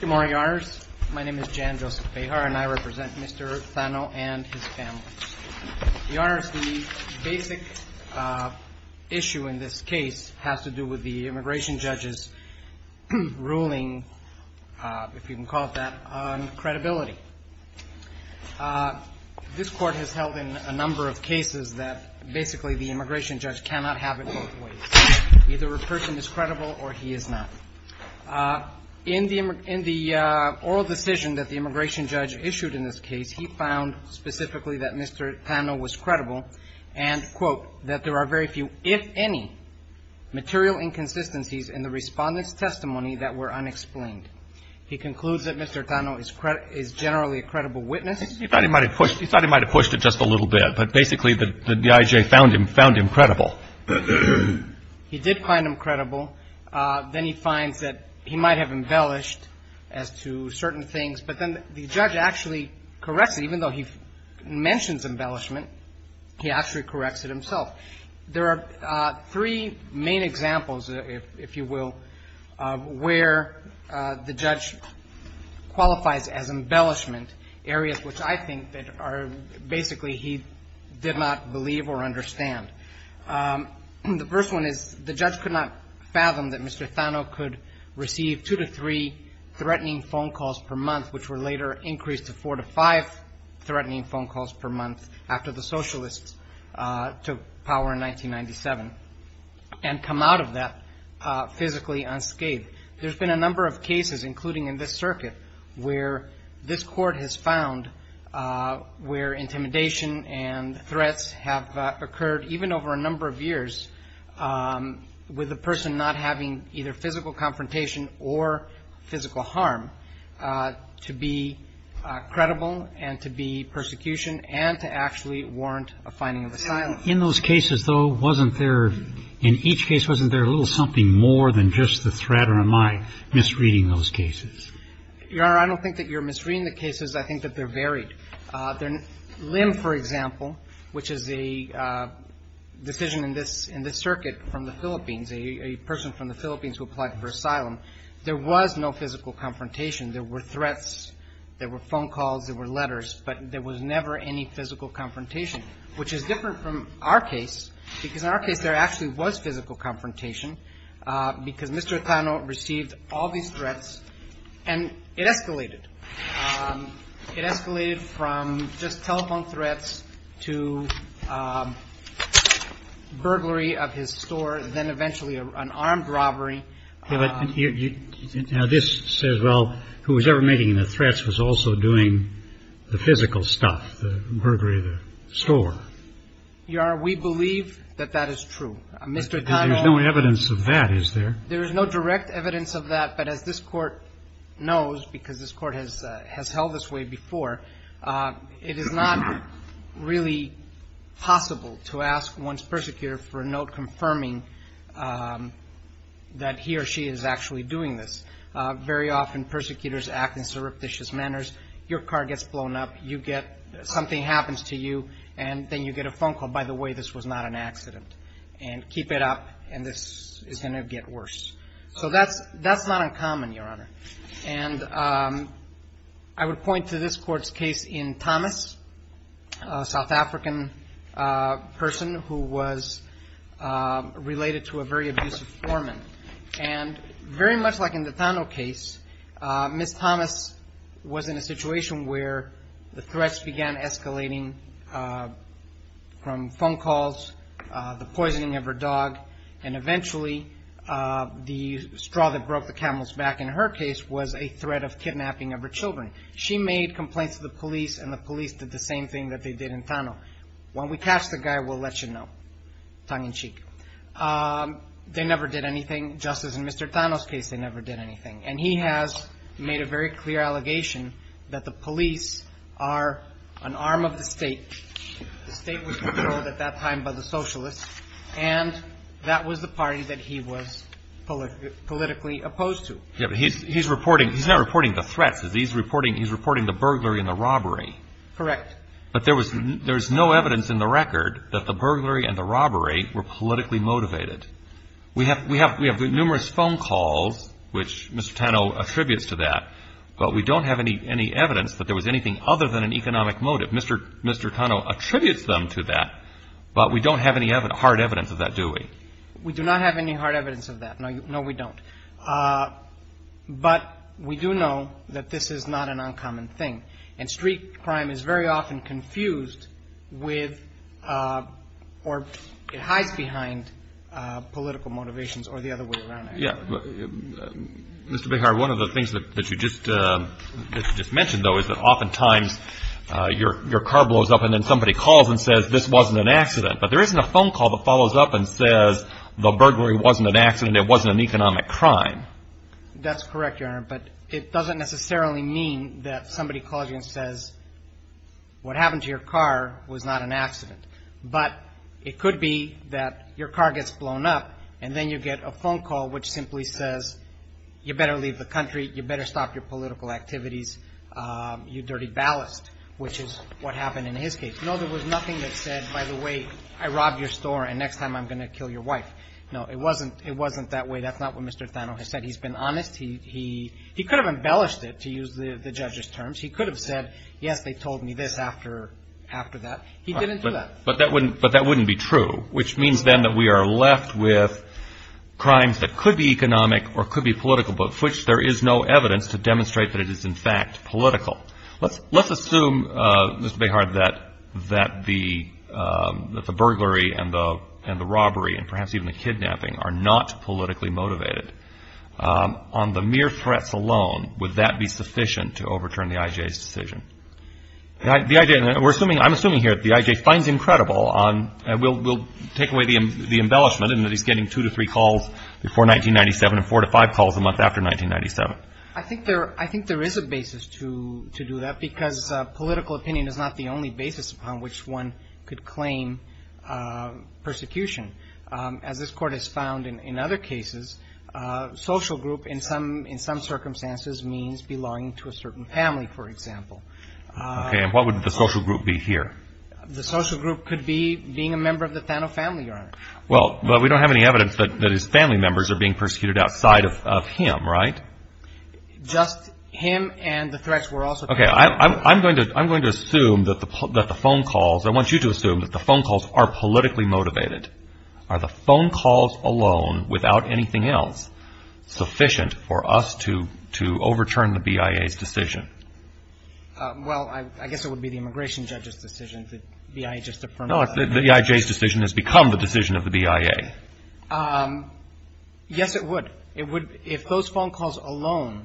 Good morning, Your Honors. My name is Jan Joseph Bejar and I represent Mr. Thano and his family. Your Honors, the basic issue in this case has to do with the immigration judge's ruling, if you can call it that, on credibility. This Court has held in a number of cases that basically the immigration judge cannot have it both ways. Either a person is credible or he is not. In the oral decision that the immigration judge issued in this case, he found specifically that Mr. Thano was credible and, quote, that there are very few, if any, material inconsistencies in the respondent's testimony that were unexplained. He concludes that Mr. Thano is generally a credible witness. He thought he might have pushed it just a little bit, but basically the D.I.J. found him credible. He did find him credible. Then he finds that he might have embellished as to certain things, but then the judge actually corrects it. Even though he mentions embellishment, he actually corrects it himself. There are three main examples, if you will, where the judge qualifies as embellishment areas which I think that are basically he did not believe or understand. The first one is the judge could not fathom that Mr. Thano could receive two to three threatening phone calls per month, which were later increased to four to five threatening phone calls per month after the socialists took power in 1997, and come out of that physically unscathed. There's been a number of cases, including in this circuit, where this court has found where intimidation and threats have occurred, even over a number of years, with a person not having either physical confrontation or physical harm, to be credible and to be persecution and to actually warrant a finding of asylum. In those cases, though, wasn't there, in each case, wasn't there a little something more than just the threat, or am I misreading those cases? Your Honor, I don't think that you're misreading the cases. I think that they're varied. Lim, for example, which is a decision in this circuit from the Philippines, a person from the Philippines who applied for asylum, there was no physical confrontation. There were threats. There were phone calls. There were letters. But there was never any physical confrontation, which is different from our case because in our case, there actually was physical confrontation because Mr. Thano received all these threats, and it escalated. It escalated from just telephone threats to burglary of his store, then eventually an armed robbery. Now, this says, well, who was ever making the threats was also doing the physical stuff, the burglary of the store. Your Honor, we believe that that is true. Mr. Thano. But there's no evidence of that, is there? There is no direct evidence of that, but as this Court knows, because this Court has held this way before, it is not really possible to ask one's persecutor for a note confirming that he or she is actually doing this. Very often, persecutors act in surreptitious manners. Your car gets blown up. You get something happens to you, and then you get a phone call, by the way, this was not an accident, and keep it up, and this is going to get worse. So that's not uncommon, Your Honor. And I would point to this Court's case in Thomas, a South African person who was related to a very abusive foreman. And very much like in the Thano case, Ms. Thomas was in a situation where the threats began escalating from phone calls, the poisoning of her dog, and eventually the straw that broke the camel's back in her case was a threat of kidnapping of her children. She made complaints to the police, and the police did the same thing that they did in Thano. When we catch the guy, we'll let you know, tongue in cheek. They never did anything, just as in Mr. Thano's case, they never did anything. And he has made a very clear allegation that the police are an arm of the state. The state was controlled at that time by the socialists, and that was the party that he was politically opposed to. He's reporting, he's not reporting the threats, he's reporting the burglary and the robbery. Correct. But there was no evidence in the record that the burglary and the robbery were politically motivated. We have numerous phone calls, which Mr. Thano attributes to that, but we don't have any evidence that there was anything other than an economic motive. Mr. Thano attributes them to that, but we don't have any hard evidence of that, do we? We do not have any hard evidence of that. No, we don't. But we do know that this is not an uncommon thing. And street crime is very often confused with or hides behind political motivations or the other way around. Yeah. Mr. Behar, one of the things that you just mentioned, though, is that oftentimes your car blows up and then somebody calls and says this wasn't an accident. But there isn't a phone call that follows up and says the burglary wasn't an accident, it wasn't an economic crime. That's correct, Your Honor, but it doesn't necessarily mean that somebody calls you and says what happened to your car was not an accident. But it could be that your car gets blown up and then you get a phone call which simply says you better leave the country, you better stop your political activities, you dirty ballast, which is what happened in his case. No, there was nothing that said, by the way, I robbed your store and next time I'm going to kill your wife. No, it wasn't that way. That's not what Mr. Thano has said. He's been honest. He could have embellished it, to use the judge's terms. He could have said, yes, they told me this after that. He didn't do that. But that wouldn't be true, which means then that we are left with crimes that could be economic or could be political, but for which there is no evidence to demonstrate that it is, in fact, political. Let's assume, Mr. Behard, that the burglary and the robbery and perhaps even the kidnapping are not politically motivated. On the mere threats alone, would that be sufficient to overturn the IJA's decision? I'm assuming here that the IJA finds him credible. We'll take away the embellishment in that he's getting two to three calls before 1997 and four to five calls a month after 1997. I think there is a basis to do that because political opinion is not the only basis upon which one could claim persecution. As this Court has found in other cases, social group in some circumstances means belonging to a certain family, for example. Okay. And what would the social group be here? The social group could be being a member of the Thano family, Your Honor. Well, but we don't have any evidence that his family members are being persecuted outside of him, right? Just him and the threats were also – Okay. I'm going to assume that the phone calls – I want you to assume that the phone calls are politically motivated. Are the phone calls alone, without anything else, sufficient for us to overturn the BIA's decision? Well, I guess it would be the immigration judge's decision that BIA just affirmed. No, the IJA's decision has become the decision of the BIA. Yes, it would. It would – if those phone calls alone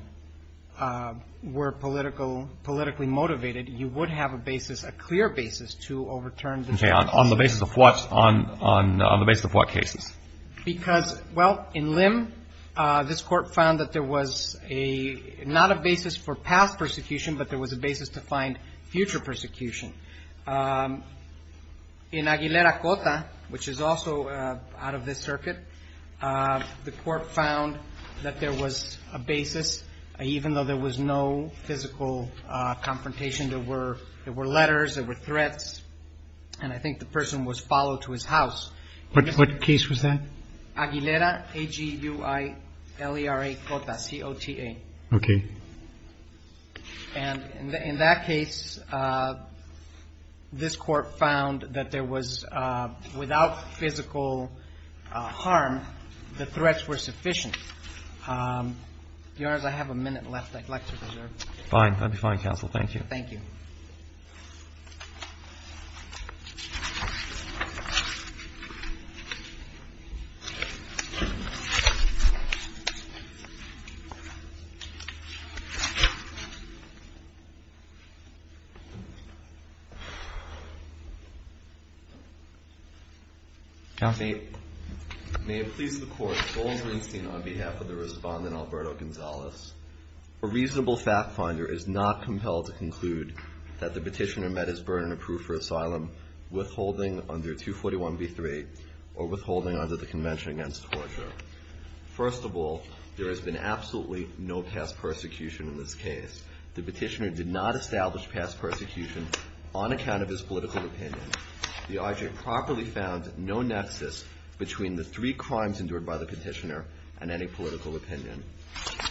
were politically motivated, you would have a basis, a clear basis to overturn the BIA's decision. Okay. On the basis of what? On the basis of what cases? Because, well, in Lim, this Court found that there was a – not a basis for past persecution, but there was a basis to find future persecution. In Aguilera-Cota, which is also out of this circuit, the Court found that there was a basis, even though there was no physical confrontation, there were letters, there were threats, and I think the person was followed to his house. What case was that? Aguilera, A-G-U-I-L-E-R-A-Cota, C-O-T-A. Okay. And in that case, this Court found that there was – without physical harm, the threats were sufficient. Your Honors, I have a minute left. I'd like to reserve. Fine. That would be fine, Counsel. Thank you. Thank you. Counsel. Your Honor, may it please the Court, Golden Greenstein on behalf of the Respondent Alberto Gonzalez. A reasonable fact finder is not compelled to conclude that the petitioner met his burden of proof for asylum withholding under 241b-3 or withholding under the Convention Against Torture. First of all, there has been absolutely no past persecution in this case. The petitioner did not establish past persecution on account of his political opinion. The IJ properly found no nexus between the three crimes endured by the petitioner and any political opinion.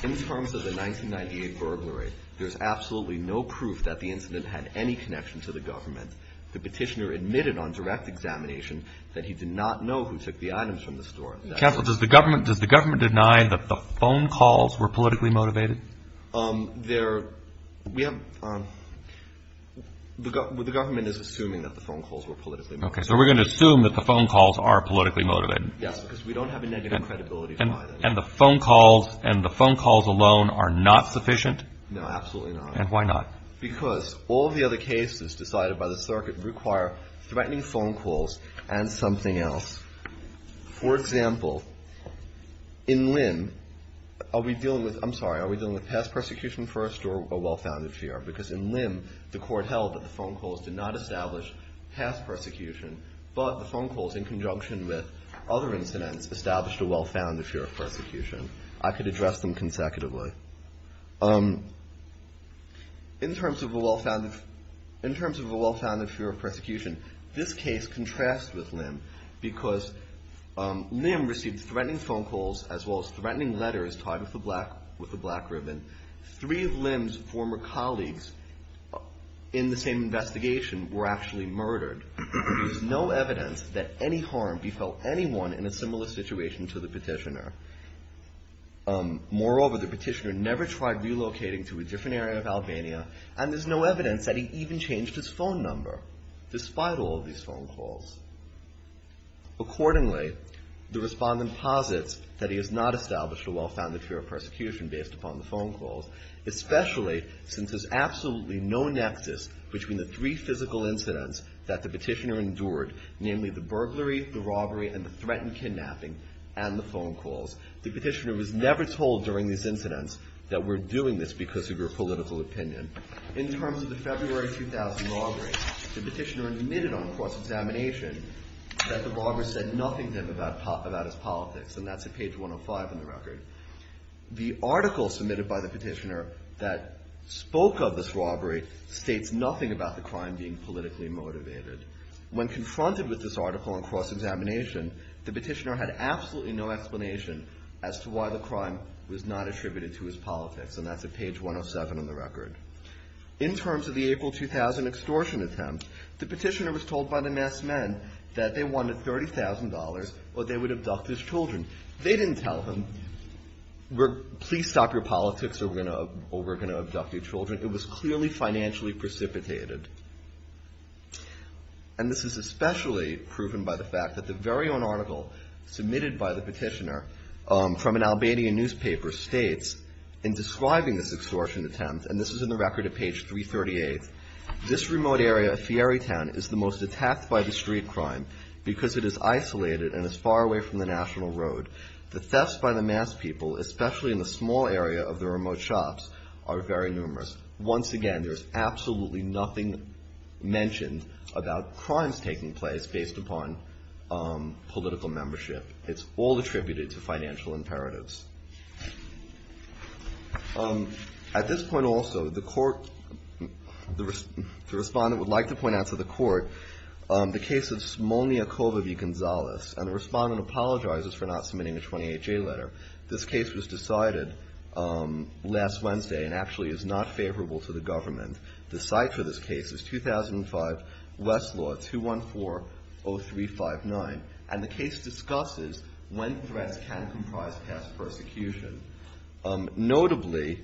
In terms of the 1998 burglary, there's absolutely no proof that the incident had any connection to the government. The petitioner admitted on direct examination that he did not know who took the items from the store. Counsel, does the government deny that the phone calls were politically motivated? The government is assuming that the phone calls were politically motivated. Okay. So we're going to assume that the phone calls are politically motivated. Yes, because we don't have a negative credibility to buy them. And the phone calls alone are not sufficient? No, absolutely not. And why not? Because all of the other cases decided by the circuit require threatening phone calls and something else. For example, in Lim, are we dealing with, I'm sorry, are we dealing with past persecution first or a well-founded fear? Because in Lim, the court held that the phone calls did not establish past persecution, but the phone calls in conjunction with other incidents established a well-founded fear of persecution. I could address them consecutively. In terms of a well-founded fear of persecution, this case contrasts with Lim because Lim received threatening phone calls as well as threatening letters tied with a black ribbon. Three of Lim's former colleagues in the same investigation were actually murdered. There's no evidence that any harm befell anyone in a similar situation to the petitioner. Moreover, the petitioner never tried relocating to a different area of Albania, and there's no evidence that he even changed his phone number despite all of these phone calls. Accordingly, the respondent posits that he has not established a well-founded fear of persecution based upon the phone calls, especially since there's absolutely no nexus between the three physical incidents that the petitioner endured, namely the burglary, the robbery, and the threatened kidnapping, and the phone calls. The petitioner was never told during these incidents that we're doing this because of your political opinion. In terms of the February 2000 robbery, the petitioner admitted on cross-examination that the robber said nothing to him about his politics, and that's at page 105 in the record. The article submitted by the petitioner that spoke of this robbery states nothing about the crime being politically motivated. When confronted with this article on cross-examination, the petitioner had absolutely no explanation as to why the crime was not attributed to his politics, and that's at page 107 in the record. In terms of the April 2000 extortion attempt, the petitioner was told by the masked men that they wanted $30,000 or they would abduct his children. They didn't tell him, please stop your politics or we're going to abduct your children. It was clearly financially precipitated, and this is especially proven by the fact that the very own article submitted by the petitioner from an Albanian newspaper states in describing this extortion attempt, and this is in the record at page 338, this remote area of Fieri Town is the most attacked by the street crime because it is isolated and is far away from the national road. The thefts by the masked people, especially in the small area of the remote shops, are very numerous. Once again, there's absolutely nothing mentioned about crimes taking place based upon political membership. It's all attributed to financial imperatives. At this point also, the court, the respondent would like to point out to the court the case of Simonyi Akovavi-Gonzalez, and the respondent apologizes for not submitting a 28-J letter. This case was decided last Wednesday and actually is not favorable to the government. The site for this case is 2005 Westlaw 2140359, and the case discusses when threats can comprise past persecution. Notably,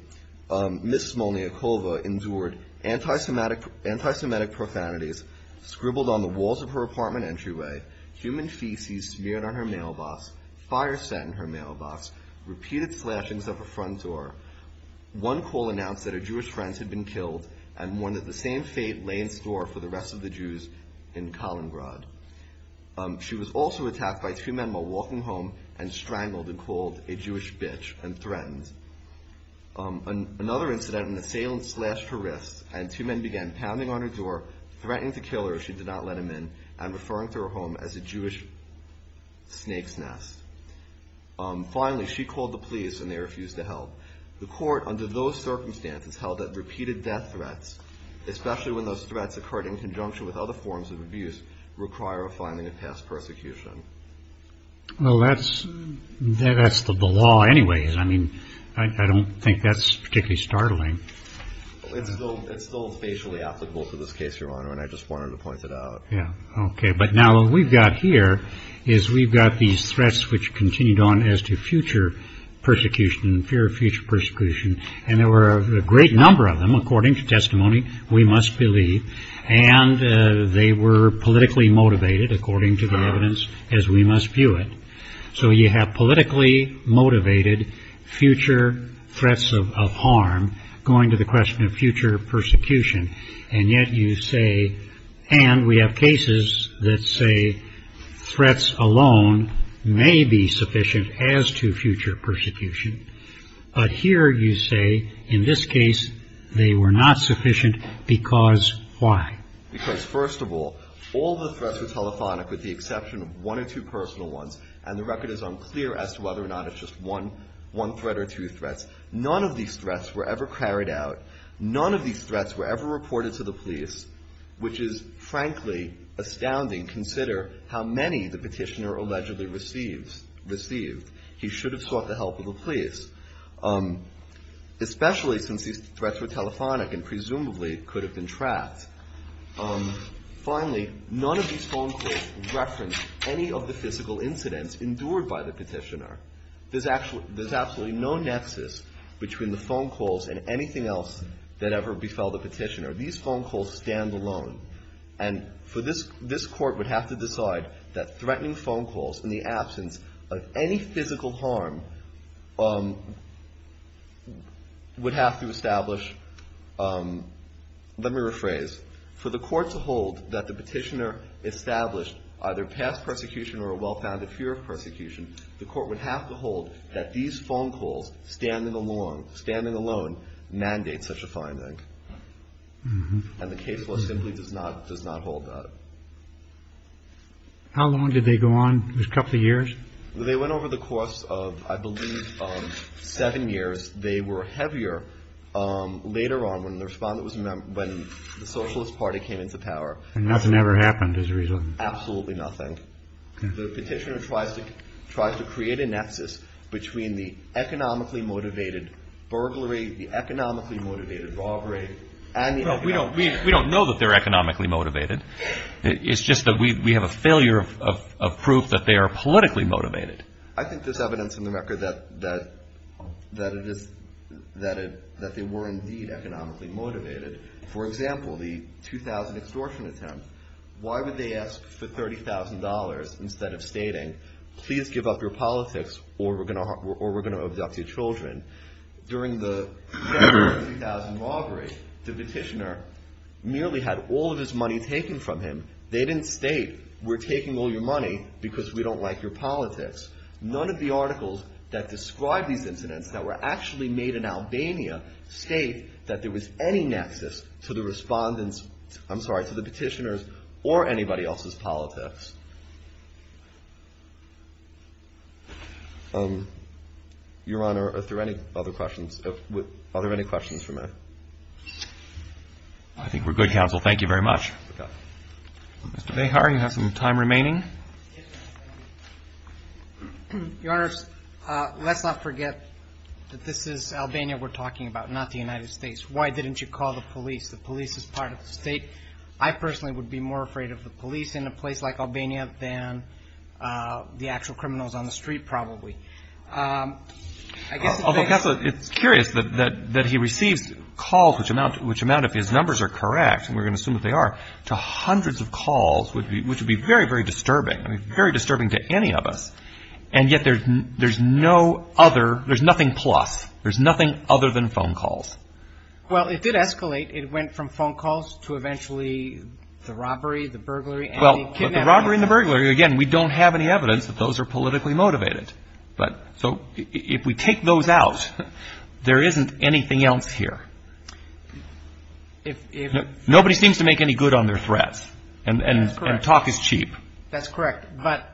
Ms. Simonyi Akovavi-Gonzalez endured anti-Semitic profanities, scribbled on the walls of her apartment entryway, human feces smeared on her mailbox, fire set in her mailbox, repeated slashings of her front door. One call announced that her Jewish friends had been killed and warned that the same fate lay in store for the rest of the Jews in Kaliningrad. She was also attacked by two men while walking home and strangled and called a Jewish bitch and threatened. Another incident, an assailant slashed her wrist, and two men began pounding on her door, threatening to kill her if she did not let him in, and referring to her home as a Jewish snake's nest. Finally, she called the police and they refused to help. The court, under those circumstances, held that repeated death threats, especially when those threats occurred in conjunction with other forms of abuse, require a filing of past persecution. Well, that's the law anyways. I mean, I don't think that's particularly startling. It's still facially applicable to this case, Your Honor, and I just wanted to point it out. Okay, but now what we've got here is we've got these threats which continued on as to future persecution, fear of future persecution, and there were a great number of them, according to testimony, we must believe, and they were politically motivated, according to the evidence, as we must view it. So you have politically motivated future threats of harm going to the question of future persecution, and yet you say, and we have cases that say threats alone may be sufficient as to future persecution, but here you say, in this case, they were not sufficient because why? Because, first of all, all the threats were telephonic with the exception of one or two personal ones, and the record is unclear as to whether or not it's just one threat or two threats. None of these threats were ever carried out. None of these threats were ever reported to the police, which is, frankly, astounding. Consider how many the petitioner allegedly received. He should have sought the help of the police, especially since these threats were telephonic and presumably could have been tracked. Finally, none of these phone calls referenced any of the physical incidents endured by the petitioner. There's absolutely no nexus between the phone calls and anything else that ever befell the petitioner. These phone calls stand alone, and this Court would have to decide that threatening phone calls in the absence of any physical harm would have to establish. Let me rephrase. For the Court to hold that the petitioner established either past persecution or a well-founded fear of persecution, the Court would have to hold that these phone calls standing alone mandate such a finding. And the case law simply does not hold that. How long did they go on? It was a couple of years? They went over the course of, I believe, seven years. They were heavier later on when the Socialist Party came into power. And nothing ever happened as a result? Absolutely nothing. The petitioner tries to create a nexus between the economically motivated burglary, the economically motivated robbery, and the economic... We don't know that they're economically motivated. It's just that we have a failure of proof that they are politically motivated. I think there's evidence in the record that they were indeed economically motivated. For example, the 2,000 extortion attempt. Why would they ask for $30,000 instead of stating, please give up your politics or we're going to abduct your children? During the 2,000 robbery, the petitioner merely had all of his money taken from him. They didn't state we're taking all your money because we don't like your politics. None of the articles that describe these incidents that were actually made in Albania state that there was any nexus to the respondent's, I'm sorry, to the petitioner's or anybody else's politics. Your Honor, are there any other questions? I think we're good, counsel. Thank you very much. Mr. Behar, you have some time remaining. Your Honor, let's not forget that this is Albania we're talking about, not the United States. Why didn't you call the police? The police is part of the state. I personally would be more afraid of the police in a place like Albania than the actual criminals on the street probably. Although, counsel, it's curious that he receives calls, which amount, if his numbers are correct, and we're going to assume that they are, to hundreds of calls, which would be very, very disturbing, very disturbing to any of us, and yet there's no other, there's nothing plus. There's nothing other than phone calls. Well, it did escalate. It went from phone calls to eventually the robbery, the burglary, and the kidnapping. But the robbery and the burglary, again, we don't have any evidence that those are politically motivated. So if we take those out, there isn't anything else here. Nobody seems to make any good on their threats, and talk is cheap. That's correct. But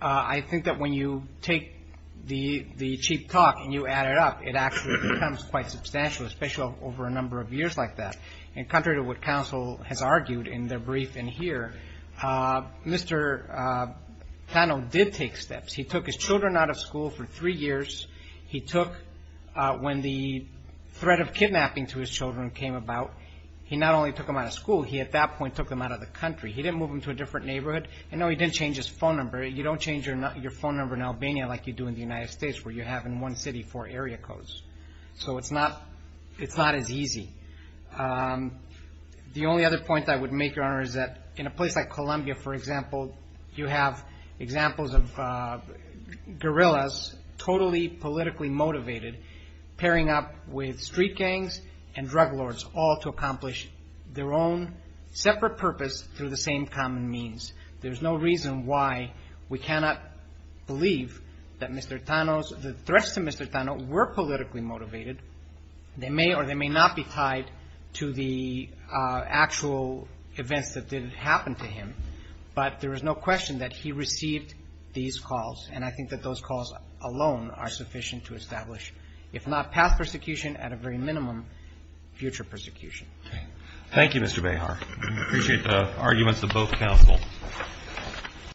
I think that when you take the cheap talk and you add it up, it actually becomes quite substantial, especially over a number of years like that. And contrary to what counsel has argued in the brief in here, Mr. Plano did take steps. He took his children out of school for three years. He took, when the threat of kidnapping to his children came about, he not only took them out of school, he at that point took them out of the country. He didn't move them to a different neighborhood. And, no, he didn't change his phone number. You don't change your phone number in Albania like you do in the United States, where you have in one city four area codes. So it's not as easy. The only other point I would make, Your Honor, is that in a place like Colombia, for example, you have examples of guerrillas, totally politically motivated, pairing up with street gangs and drug lords, all to accomplish their own separate purpose through the same common means. There's no reason why we cannot believe that Mr. Tano's or the threats to Mr. Tano were politically motivated. They may or they may not be tied to the actual events that did happen to him, but there is no question that he received these calls. And I think that those calls alone are sufficient to establish, if not past persecution, at a very minimum, future persecution. Roberts. Thank you, Mr. Behar. We appreciate the arguments of both counsel.